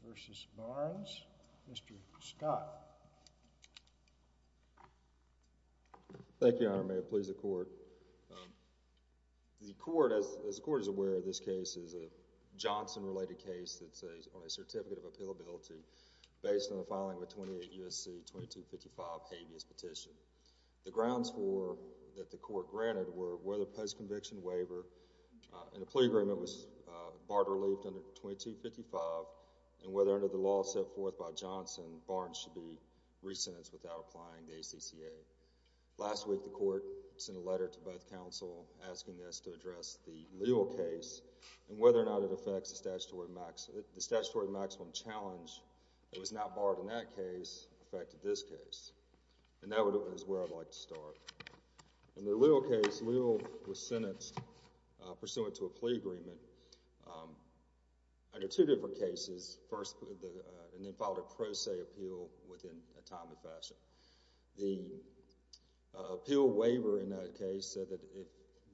v. Barnes. Mr. Scott. Thank you, Your Honor. May it please the Court. The Court, as the Court is aware of this case, is a Johnson-related case that's on a Certificate of Appealability based on the filing of a 28 U.S.C. 2255 habeas petition. The grounds that the Court granted were whether post-conviction waiver in a plea agreement was barred or relieved under 2255 and whether, under the law set forth by Johnson, Barnes should be re-sentenced without applying the ACCA. Last week, the Court sent a letter to both counsel asking us to address the Leal case and whether or not it affects the statutory maximum challenge that was not barred in that case. And that is where I'd like to start. In the Leal case, Leal was sentenced pursuant to a plea agreement under two different cases. First, and then followed a pro se appeal within a time and fashion. The appeal waiver in that case said that if,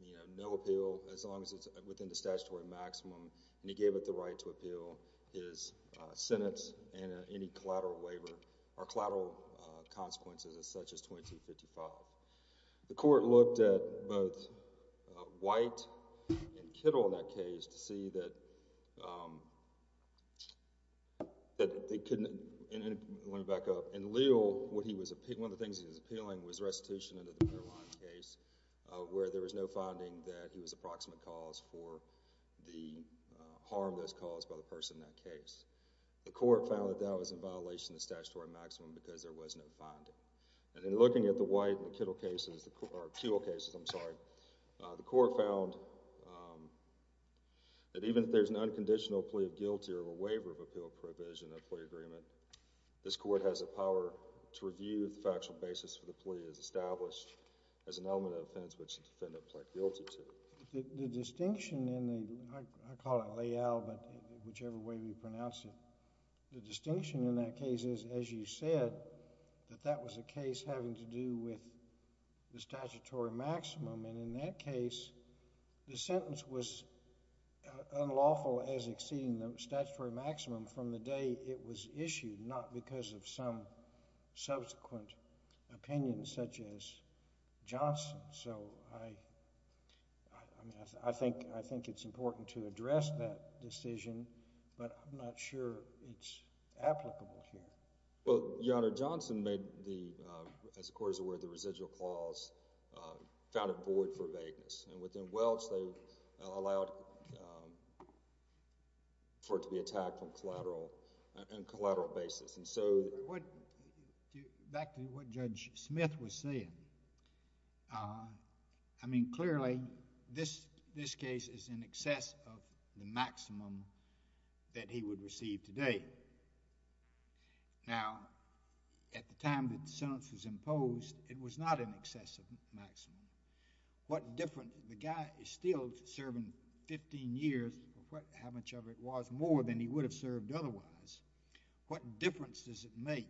you know, no appeal as long as it's within the statutory maximum and he gave it the right to appeal, his sentence and any collateral waiver or collateral consequences as such as 2255. The Court looked at both White and Kittle in that case to see that they couldn't... let me back up. In Leal, what he was... one of the things he was appealing was restitution under the Caroline case where there was no finding that he was a proximate cause for the harm that was caused by the person in that case. The Court found that that was in violation of the statutory maximum because there was no finding. And in looking at the White and Kittle cases, or appeal cases, I'm sorry, the Court found that even if there's an unconditional plea of guilty or a waiver of appeal provision in a plea agreement, this Court has the power to review the factual basis for the plea as established as an element of offense which the defendant pled guilty to. The distinction in the... I call it Leal, but whichever way we pronounce it, the distinction in that case is, as you said, that that was a case having to do with the statutory maximum. And in that case, the sentence was unlawful as exceeding the statutory maximum from the day it was issued, not because of some subsequent opinions, such as Johnson. So, I think it's important to address that decision, but I'm not sure it's applicable here. Well, Your Honor, Johnson made the, as the Court is aware, the residual clause found it void for vagueness. And within Welch, they allowed for it to be what Judge Smith was saying. I mean, clearly, this case is in excess of the maximum that he would receive today. Now, at the time that the sentence was imposed, it was not in excess of maximum. What difference... the guy is still serving 15 years, how much of it was, more than he would have served otherwise. What difference does it make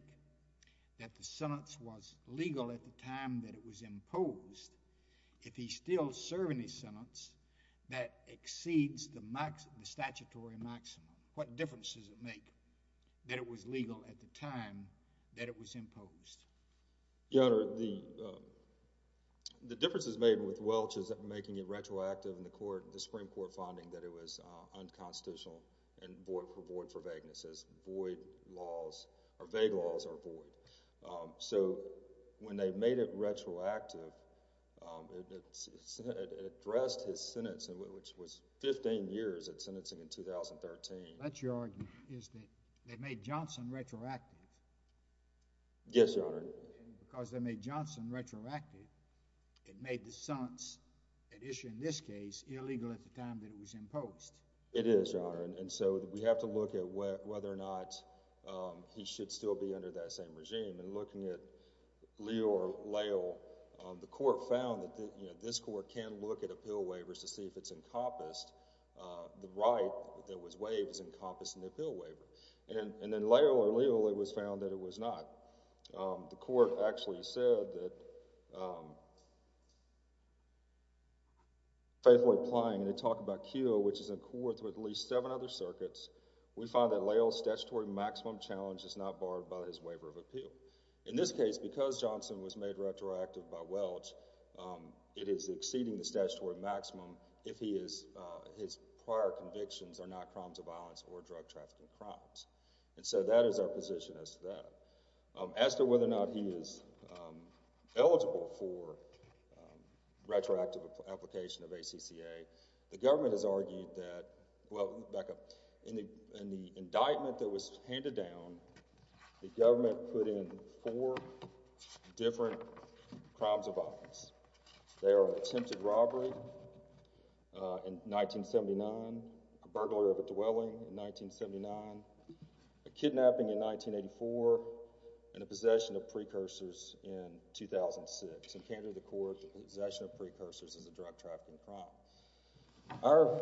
that the sentence was legal at the time that it was imposed, if he's still serving his sentence, that exceeds the statutory maximum? What difference does it make that it was legal at the time that it was imposed? Your Honor, the differences made with Welch is making it retroactive in the Supreme Court finding that it was unconstitutional and void for vagueness, as void laws or vague laws are void. So, when they made it retroactive, it addressed his sentence, which was 15 years at sentencing in 2013. But your argument is that they made Johnson retroactive. Yes, Your Honor. And because they made Johnson retroactive, it made the sentence at issue in this case illegal at the time that it was imposed. It is, Your Honor. And so, we have to look at whether or not he should still be under that same regime. And looking at Leo or Layle, the Court found that this Court can look at appeal waivers to see if it's encompassed, the right that was waived is encompassed in the appeal waiver. And in Layle or Leo, it was found that it was not. The Court actually said that, faithfully implying, and they talk about Keogh, which is in court with at least seven other circuits, we find that Layle's statutory maximum challenge is not barred by his waiver of appeal. In this case, because Johnson was made retroactive by Welch, it is exceeding the statutory maximum if he is, his prior convictions are not crimes of violence or drug trafficking crimes. And so, that is our position as to that. As to whether or not he is eligible for retroactive application of ACCA, the government has argued that, well, back up, in the indictment that was handed down, the government put in four different crimes of violence. They are an attempted robbery in 1979, a burglar of a dwelling in 1979, a kidnapping in 1984, and a possession of precursors in 2006. In Canada, the court, possession of precursors is a drug trafficking crime. Our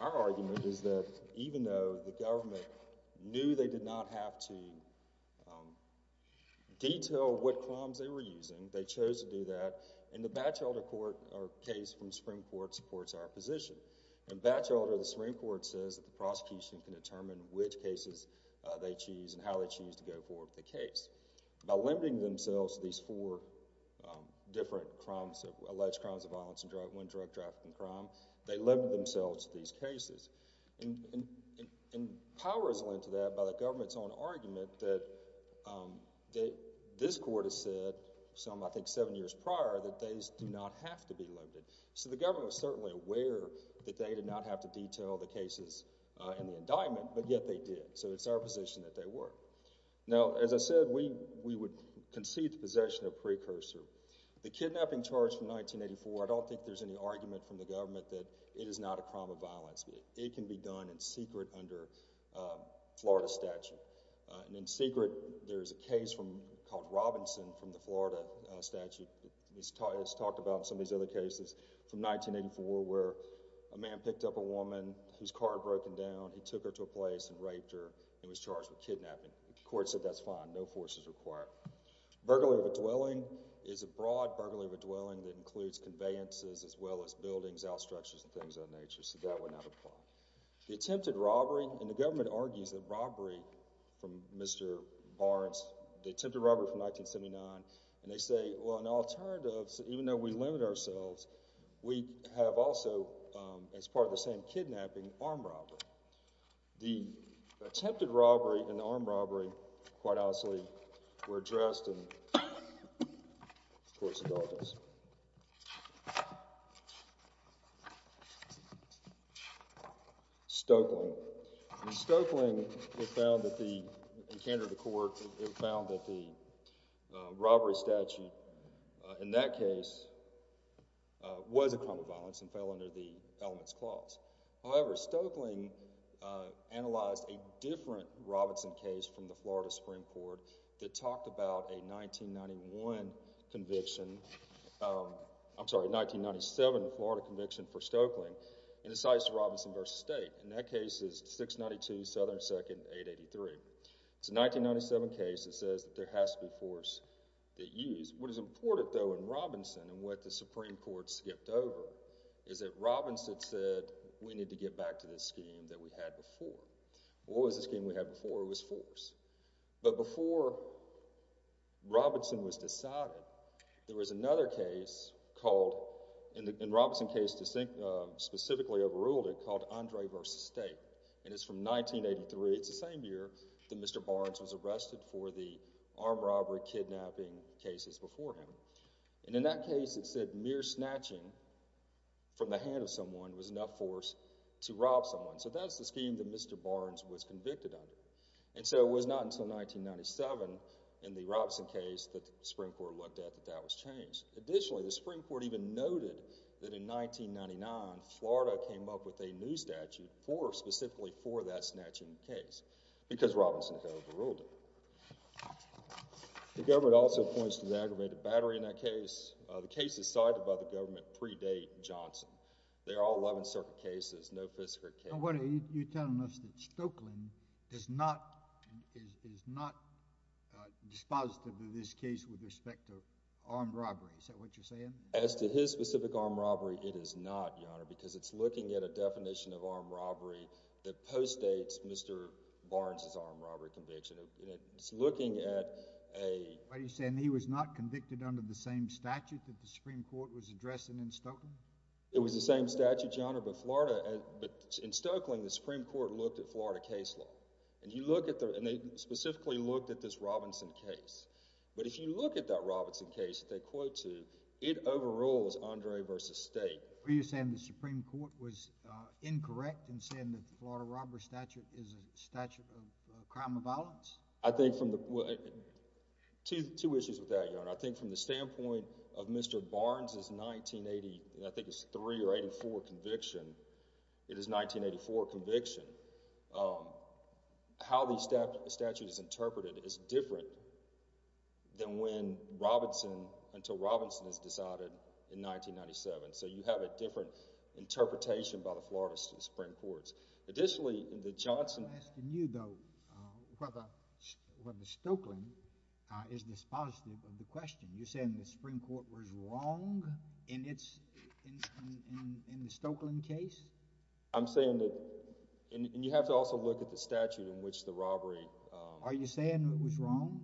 argument is that, even though the government knew they did not have to detail what crimes they were using, they chose to do that, and the Batchelder case from Supreme Court supports our position. In Batchelder, the Supreme Court says that the prosecution can determine which cases they choose and how they choose to go forward with the case. By limiting themselves to these four different crimes, alleged crimes of violence and drug, when drug trafficking crime, they limit themselves to these cases. And power is lent to that by the government's own argument that this court has said, some, I think, seven years prior, that these do not have to be limited. So, the government was certainly aware that they did not have to detail the cases in the indictment, but yet they did. So, it's our position that they were. Now, as I said, we would concede the possession of precursor. The kidnapping charge from 1984, I don't think there's any argument from the government that it is not a crime of violence. It can be done in secret under Florida statute. And in secret, there's a case called Robinson from the Florida statute. It's talked about in some of these other cases from 1984, where a man picked up a woman whose car had broken down. He took her to a place and raped her and was charged with kidnapping. The court said that's fine. No force is required. Burglary of a dwelling is a broad burglary of a dwelling that includes conveyances as well as buildings, outstructures, and things of that nature. So, that would not apply. The attempted robbery, and the government argues that robbery from Mr. Barnes, the attempted robbery from 1979, and they say, well, an alternative, even though we can't say for ourselves, we have also, as part of the same kidnapping, armed robbery. The attempted robbery and the armed robbery, quite honestly, were addressed in, of course, indulgence. Stokeling. In Stokeling, it was found that the, in Canada court, it was found that the robbery statute in that case was a crime of violence and fell under the elements clause. However, Stokeling analyzed a different Robinson case from the Florida Supreme Court that talked about a 1991 conviction, I'm sorry, a 1997 Florida conviction for Stokeling, and it cites Robinson v. State. And that case is 692 Southern 2nd, 883. It's a 1997 case that says that there has to be force at use. What is important, though, in Robinson, and what the Supreme Court skipped over, is that Robinson said, we need to get back to this scheme that we had before. Well, what was the scheme we had before? It was force. But before Robinson was decided, there was another case called, in Robinson's case, specifically overruled it, called Andre v. State. And it's from 1983, it's the same year that Mr. Barnes was arrested for the armed robbery kidnapping cases before him. And in that case, it said mere snatching from the hand of someone was enough force to rob someone. So that's the scheme that Mr. Barnes was convicted under. And so it was not until 1997, in the Robinson case, that the Supreme Court looked at that that was changed. Additionally, the Supreme Court even noted that in 1999, Florida came up with a new statute for, specifically for that snatching case, because Robinson had overruled it. The government also points to the aggravated battery in that case. The cases cited by the government predate Johnson. They are all Eleventh Circuit cases, no Fifth Circuit cases. Now, what are you telling us, that Stokeland is not, is not dispositive of this case with respect to armed robbery? Is that what you're saying? As to his specific armed robbery, it is not, Your Honor, because it's looking at a definition of armed robbery that postdates Mr. Barnes' armed robbery conviction. It's looking at a... What are you saying? He was not convicted under the same statute that the Supreme Court was addressing in Stokeland? It was the same statute, Your Honor, but Florida, but in Stokeland, the Supreme Court looked at Florida case law. And he looked at the, and they specifically looked at this Robinson case. But if you look at that Robinson case that they quote to, it overrules Andre v. State. Were you saying the Supreme Court was incorrect in saying that the Florida robbery statute is a statute of crime of violence? I think from the... Two issues with that, Your Honor. I think from the standpoint of Mr. Barnes' 1980, I think it's 3 or 84 conviction, it is 1984 conviction, how the statute is interpreted is different than when Robinson, until Robinson is decided in 1997. So you have a different interpretation by the Florida Supreme Court. Additionally, the Johnson... I'm asking you, though, whether Stokeland is dispositive of the question. You're saying the Supreme Court was wrong in the Stokeland case? I'm saying that, and you have to also look at the statute in which the robbery... Are you saying it was wrong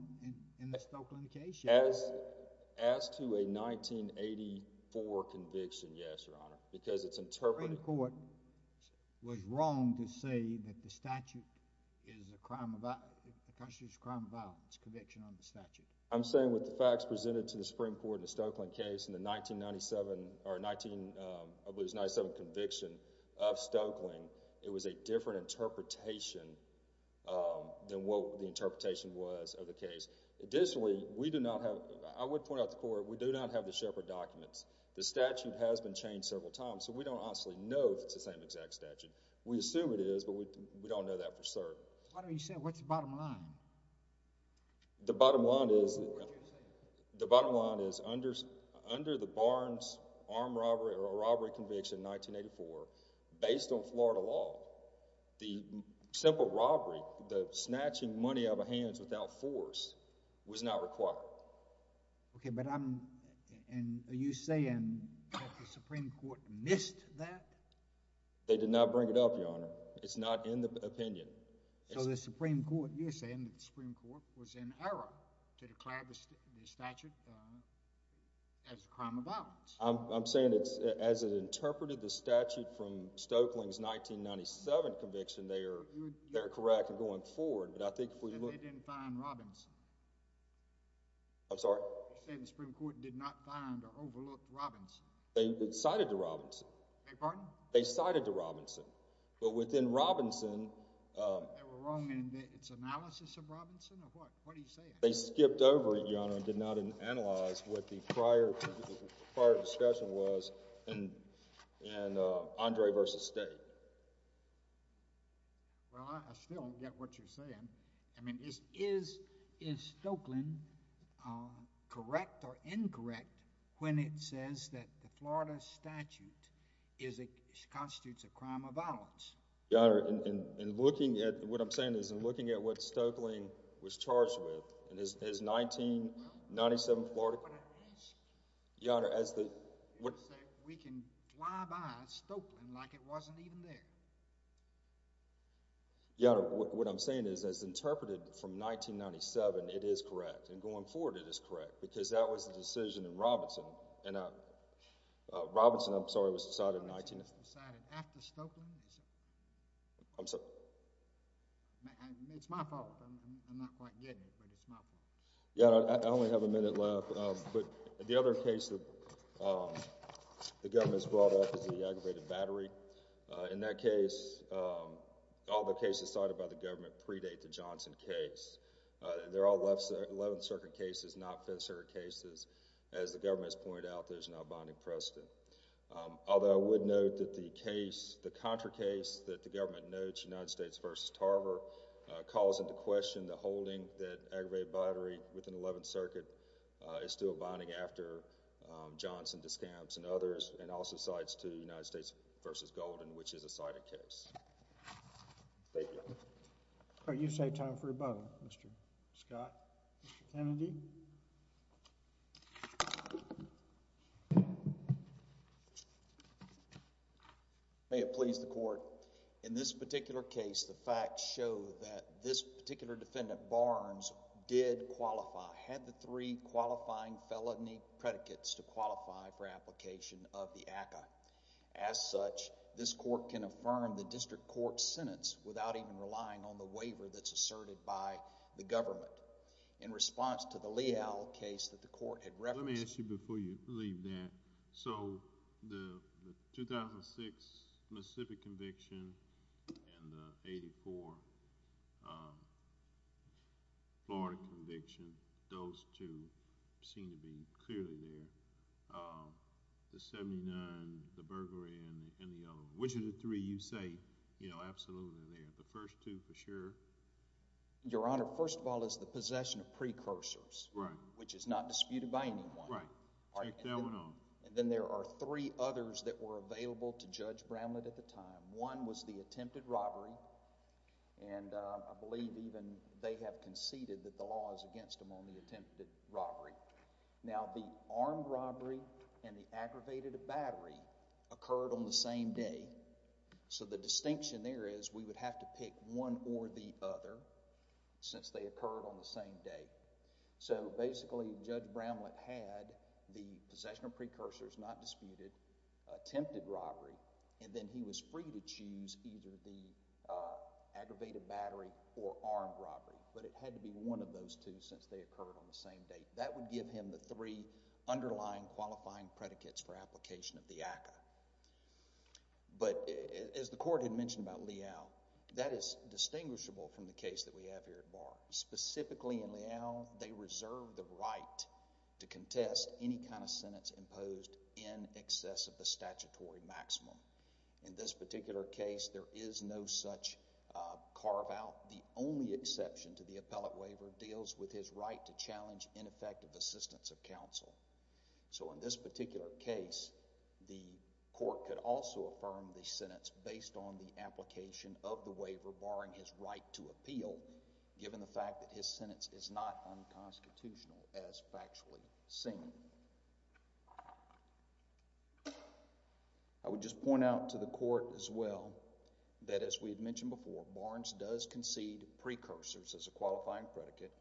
in the Stokeland case? As to a 1984 conviction, yes, Your Honor, because it's interpreted... The Supreme Court was wrong to say that the statute is a crime of violence, conviction on the statute. I'm saying with the facts presented to the Supreme Court in the Stokeland case in the 1997 conviction of Stokeland, it was a different interpretation than what the interpretation was of the case. Additionally, we do not have... I would point out to the Court, we do not have the Shepard documents. The statute has been changed several times, so we don't honestly know if it's the same exact statute. We assume it is, but we don't know that for certain. Why don't you say what's the bottom line? The bottom line is under the Barnes armed robbery or robbery conviction in 1984, based on Florida law, the simple robbery, the snatching money out of hands without force, was not required. Okay, but I'm... And are you saying that the Supreme Court missed that? They did not bring it up, Your Honor. It's not in the opinion. So the Supreme Court... You're saying that the Supreme Court was in error to declare the statute as a crime of violence. I'm saying that as it interpreted the statute from Stokeland's 1997 conviction, they are correct in going forward, but I think if we look... And they didn't find Robinson? I'm sorry? You're saying the Supreme Court did not find or overlook Robinson? They cited the Robinson. Beg your pardon? They cited the Robinson, but within Robinson... They were wrong in its analysis of Robinson, or what? What are you saying? They skipped over it, Your Honor, and did not analyze what the prior discussion was in Andre versus State. Well, I still don't get what you're saying. I mean, is Stokeland correct or incorrect when it says that the Florida statute constitutes a crime of violence? Your Honor, in looking at... What I'm saying is, in looking at what Stokeland was charged with in his 1997 Florida... Well, that's what I'm asking. Your Honor, as the... You're saying we can fly by Stokeland like it wasn't even there. Your Honor, what I'm saying is, as interpreted from 1997, it is correct, and going forward it is correct, because that was the decision in Robinson. Robinson, I'm sorry, was decided in 19... Robinson was decided after Stokeland? I'm sorry? It's my fault. I'm not quite getting it, but it's my fault. Your Honor, I only have a minute left, but the other case that the government has brought up is the aggravated battery. In that case, all the cases cited by the government predate the Johnson case. They're all 11th Circuit cases, not 5th Circuit cases. As the government has pointed out, there's not a binding precedent. Although, I would note that the case, the contra case that the government notes, United States v. Tarver, calls into question the holding that aggravated battery within the 11th Circuit is still binding after Johnson discounts and others, and also cites to United States v. Golden, which is a cited case. Thank you. All right, you've saved time for your bow, Mr. Scott. Mr. Kennedy? May it please the Court, in this particular case, the facts show that this particular defendant, Barnes, did qualify, had the three qualifying felony predicates to qualify for application of the ACCA. As such, this court can affirm the district court's sentence without even relying on the waiver that's asserted by the government. In response to the Leal case that the court had referenced... Let me ask you before you leave that. So, the 2006 Mississippi conviction and the 84 Florida conviction, those two seem to be clearly there. The 79, the burglary, and the other. Which of the three you say, you know, absolutely are there? The first two for sure? Your Honor, first of all is the possession of precursors. Right. Which is not disputed by anyone. Right. Take that one on. And then there are three others that were available to Judge Bramlett at the time. One was the attempted robbery, and I believe even they have conceded that the law is against him on the attempted robbery. Now, the armed robbery and the aggravated battery occurred on the same day. So, the distinction there is we would have to pick one or the other since they occurred on the same day. So, basically Judge Bramlett had the possession of precursors not disputed, attempted robbery, and then he was free to choose either the aggravated battery or armed robbery. But it had to be one of those two since they occurred on the same day. That would give him the three underlying qualifying predicates for application of the ACCA. But, as the Court had mentioned about Leal, that is distinguishable from the case that we have here at Bar. Specifically in Leal, they reserve the right to contest any kind of sentence imposed in excess of the statutory maximum. In this particular case, there is no such carve-out. The only exception to the appellate waiver deals with his right to challenge ineffective assistance of counsel. So, in this particular case, the Court could also affirm the sentence based on the application of the waiver barring his right to appeal given the fact that his sentence is not unconstitutional as factually seen. I would just point out to the Court, as well, that as we had mentioned before, Barnes does concede precursors as a qualifying predicate.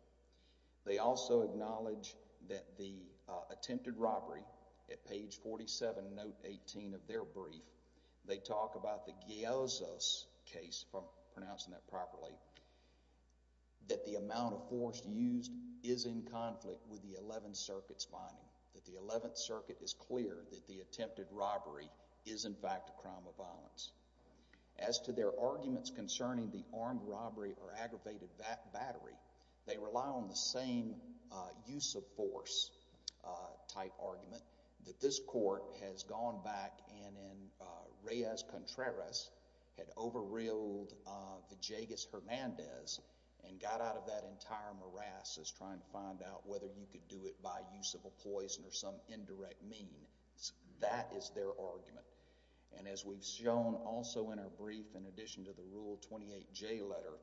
They also acknowledge that the attempted robbery at page 47, note 18 of their brief, they talk about the Geozo's case, if I'm pronouncing that properly, that the amount of force used is in conflict with the Eleventh Circuit's finding. That the Eleventh Circuit is clear that the attempted robbery is, in fact, a crime of violence. As to their arguments concerning the armed robbery or aggravated battery, they rely on the same use of force type argument that this Court has gone back and in Reyes Contreras had over-reeled Villegas-Hernandez and got out of that entire morass as trying to find out whether you could do it by use of a poison or some indirect mean. That is their argument. As we've shown also in our brief, in addition to the Rule 28J letter,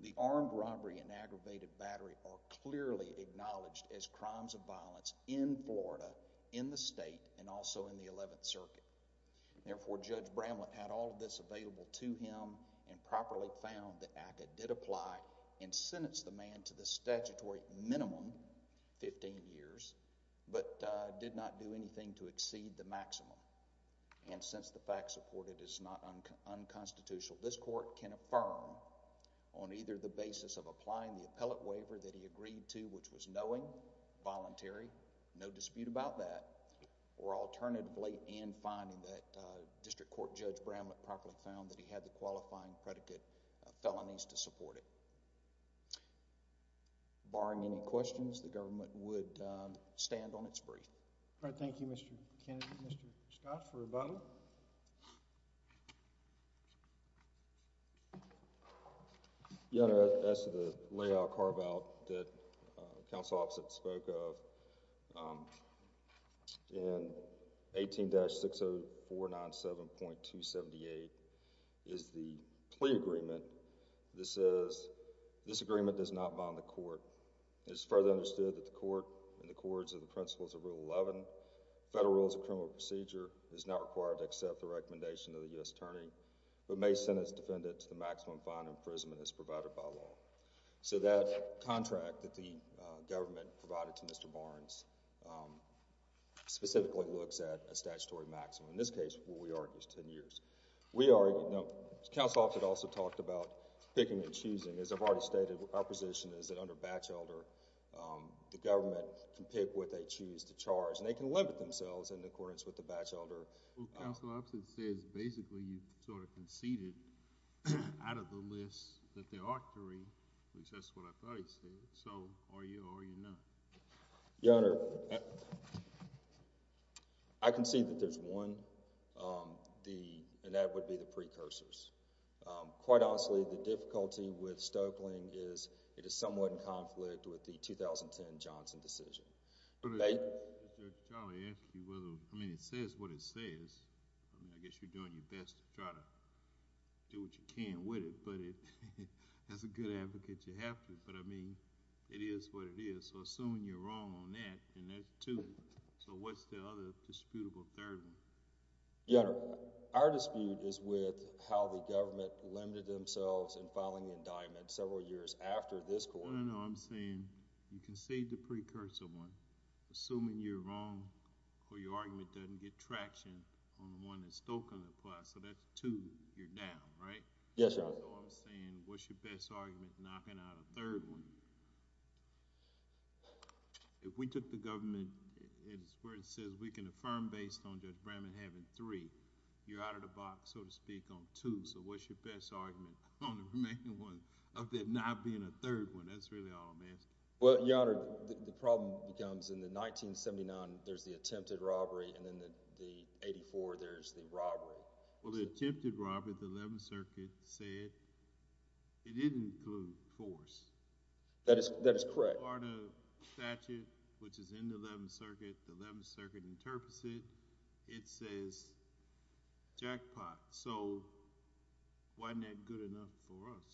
the armed robbery and aggravated battery are clearly acknowledged as crimes of violence in Florida, in the state, and also in the Eleventh Circuit. Therefore, Judge Bramlett had all of this available to him and properly found that ACCA did apply and sentence the man to the statutory minimum, 15 years, but did not do anything to exceed the maximum. And since the fact supported is not unconstitutional, this Court can affirm on either the basis of applying the appellate waiver that he agreed to, which was knowing, voluntary, no dispute about that, or alternatively in finding that District Court Judge Bramlett properly found that he had the qualifying predicate of felonies to support it. Barring any questions, the government would stand on its brief. All right. Thank you, Mr. Kennedy. Mr. Scott for rebuttal. Your Honor, as to the layoff carve-out that counsel opposite spoke of in 18-60497.278 is the plea agreement that says, this agreement does not bond the court. It is further understood that the court and the courts of the principles of Rule 11, federal rules of criminal procedure, is not required to accept the recommendation of the U.S. Attorney, but may sentence defendants to the maximum fine and imprisonment as provided by law. So that contract that the government provided to Mr. Barnes specifically looks at a statutory maximum. In this case, what we argue is 10 years. Counsel opposite also talked about picking and choosing. As I've already stated, our position is that under Batchelder, the government can pick what they choose to charge. And they can limit themselves in accordance with the Batchelder. Counsel opposite says, basically, you've sort of conceded out of the list that they ought to read, which that's what I thought he said. So are you or are you not? Your Honor, I concede that there's one, and that would be the precursors. Quite honestly, the difficulty with Stoeckling is it is somewhat in conflict with the 2010 Johnson decision. Mr. Charlie asked you whether, I mean, it says what it says. I mean, I guess you're doing your best to try to do what you can with it. But as a good advocate, you have to. But I mean, it is what it is. So assuming you're wrong on that, and that's two. So what's the other disputable third one? Your Honor, our dispute is with how the government limited themselves in filing the indictment several years after this court. I'm not saying you can't. I'm not saying you can't. I'm not saying you can't. I'm not saying you can't. Maybe you can now. Yeah, well, let me be simple. You lose your precursor one, assuming you're wrong or your argument doesn't get traction on the one that Stonekling applied. So that's two. You're down, right? Yes, Your Honor. So I'm saying what's your best argument knocking out a third one? If we took the government as to where it says we can affirm based on Judge Brandman having three, you're out of the box, so to speak, on two. So what's your best argument on the remaining one, of that not being a third one? That's really all I'm asking. Well, Your Honor, the problem becomes in the 1979, there's the attempted robbery, and then in the 84, there's the robbery. Well, the attempted robbery, the 11th Circuit said it didn't include force. That is correct. Part of statute, which is in the 11th Circuit, the 11th Circuit interprets it. It says jackpot. So wasn't that good enough for us?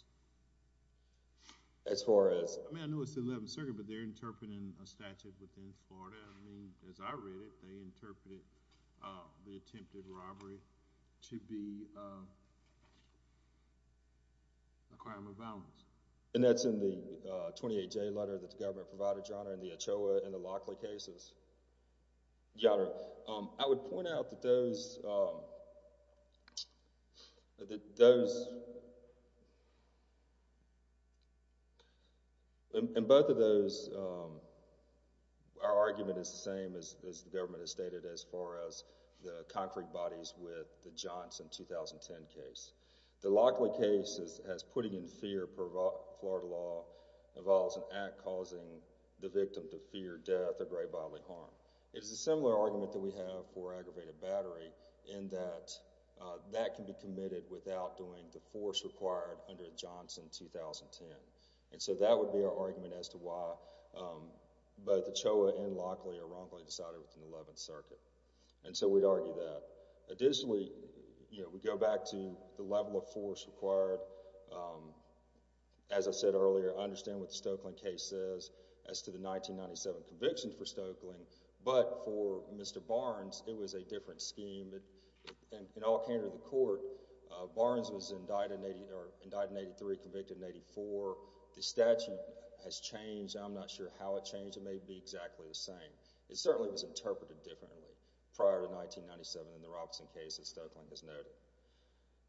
As far as? I mean, I know it's the 11th Circuit, but they're interpreting a statute within Florida. I mean, as I read it, they interpreted the attempted robbery to be a crime of violence. And that's in the 28J letter that the government provided, Your Honor, in the Ochoa and the Lockley cases? Yes, Your Honor. I would point out that those... In both of those, our argument is the same as the government has stated as far as the concrete bodies with the Johnson 2010 case. The Lockley case has putting in fear per Florida law involves an act causing the victim to fear death or grave bodily harm. It is a similar argument that we have for aggravated battery in that that can be committed without doing the force required under Johnson 2010. And so that would be our argument as to why both the Ochoa and Lockley or Ronkley decided within the 11th Circuit. And so we'd argue that. Additionally, you know, we go back to the level of force required. As I said earlier, I understand what the Stokeland case says as to the 1997 conviction for Stokeland. But for Mr. Barnes, it was a different scheme. In all candor of the court, Barnes was indicted in 1983, convicted in 1984. The statute has changed. I'm not sure how it changed. It may be exactly the same. It certainly was interpreted differently prior to 1997 in the Robinson case that Stokeland has noted.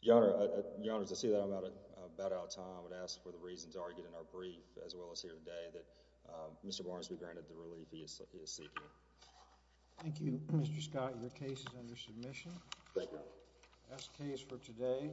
Your Honor, to say that I'm about out of time, I would ask for the reasons argued in our brief as well as here today that Mr. Barnes be granted the relief he is seeking. Thank you, Mr. Scott. Your case is under submission. Thank you. That's the case for today.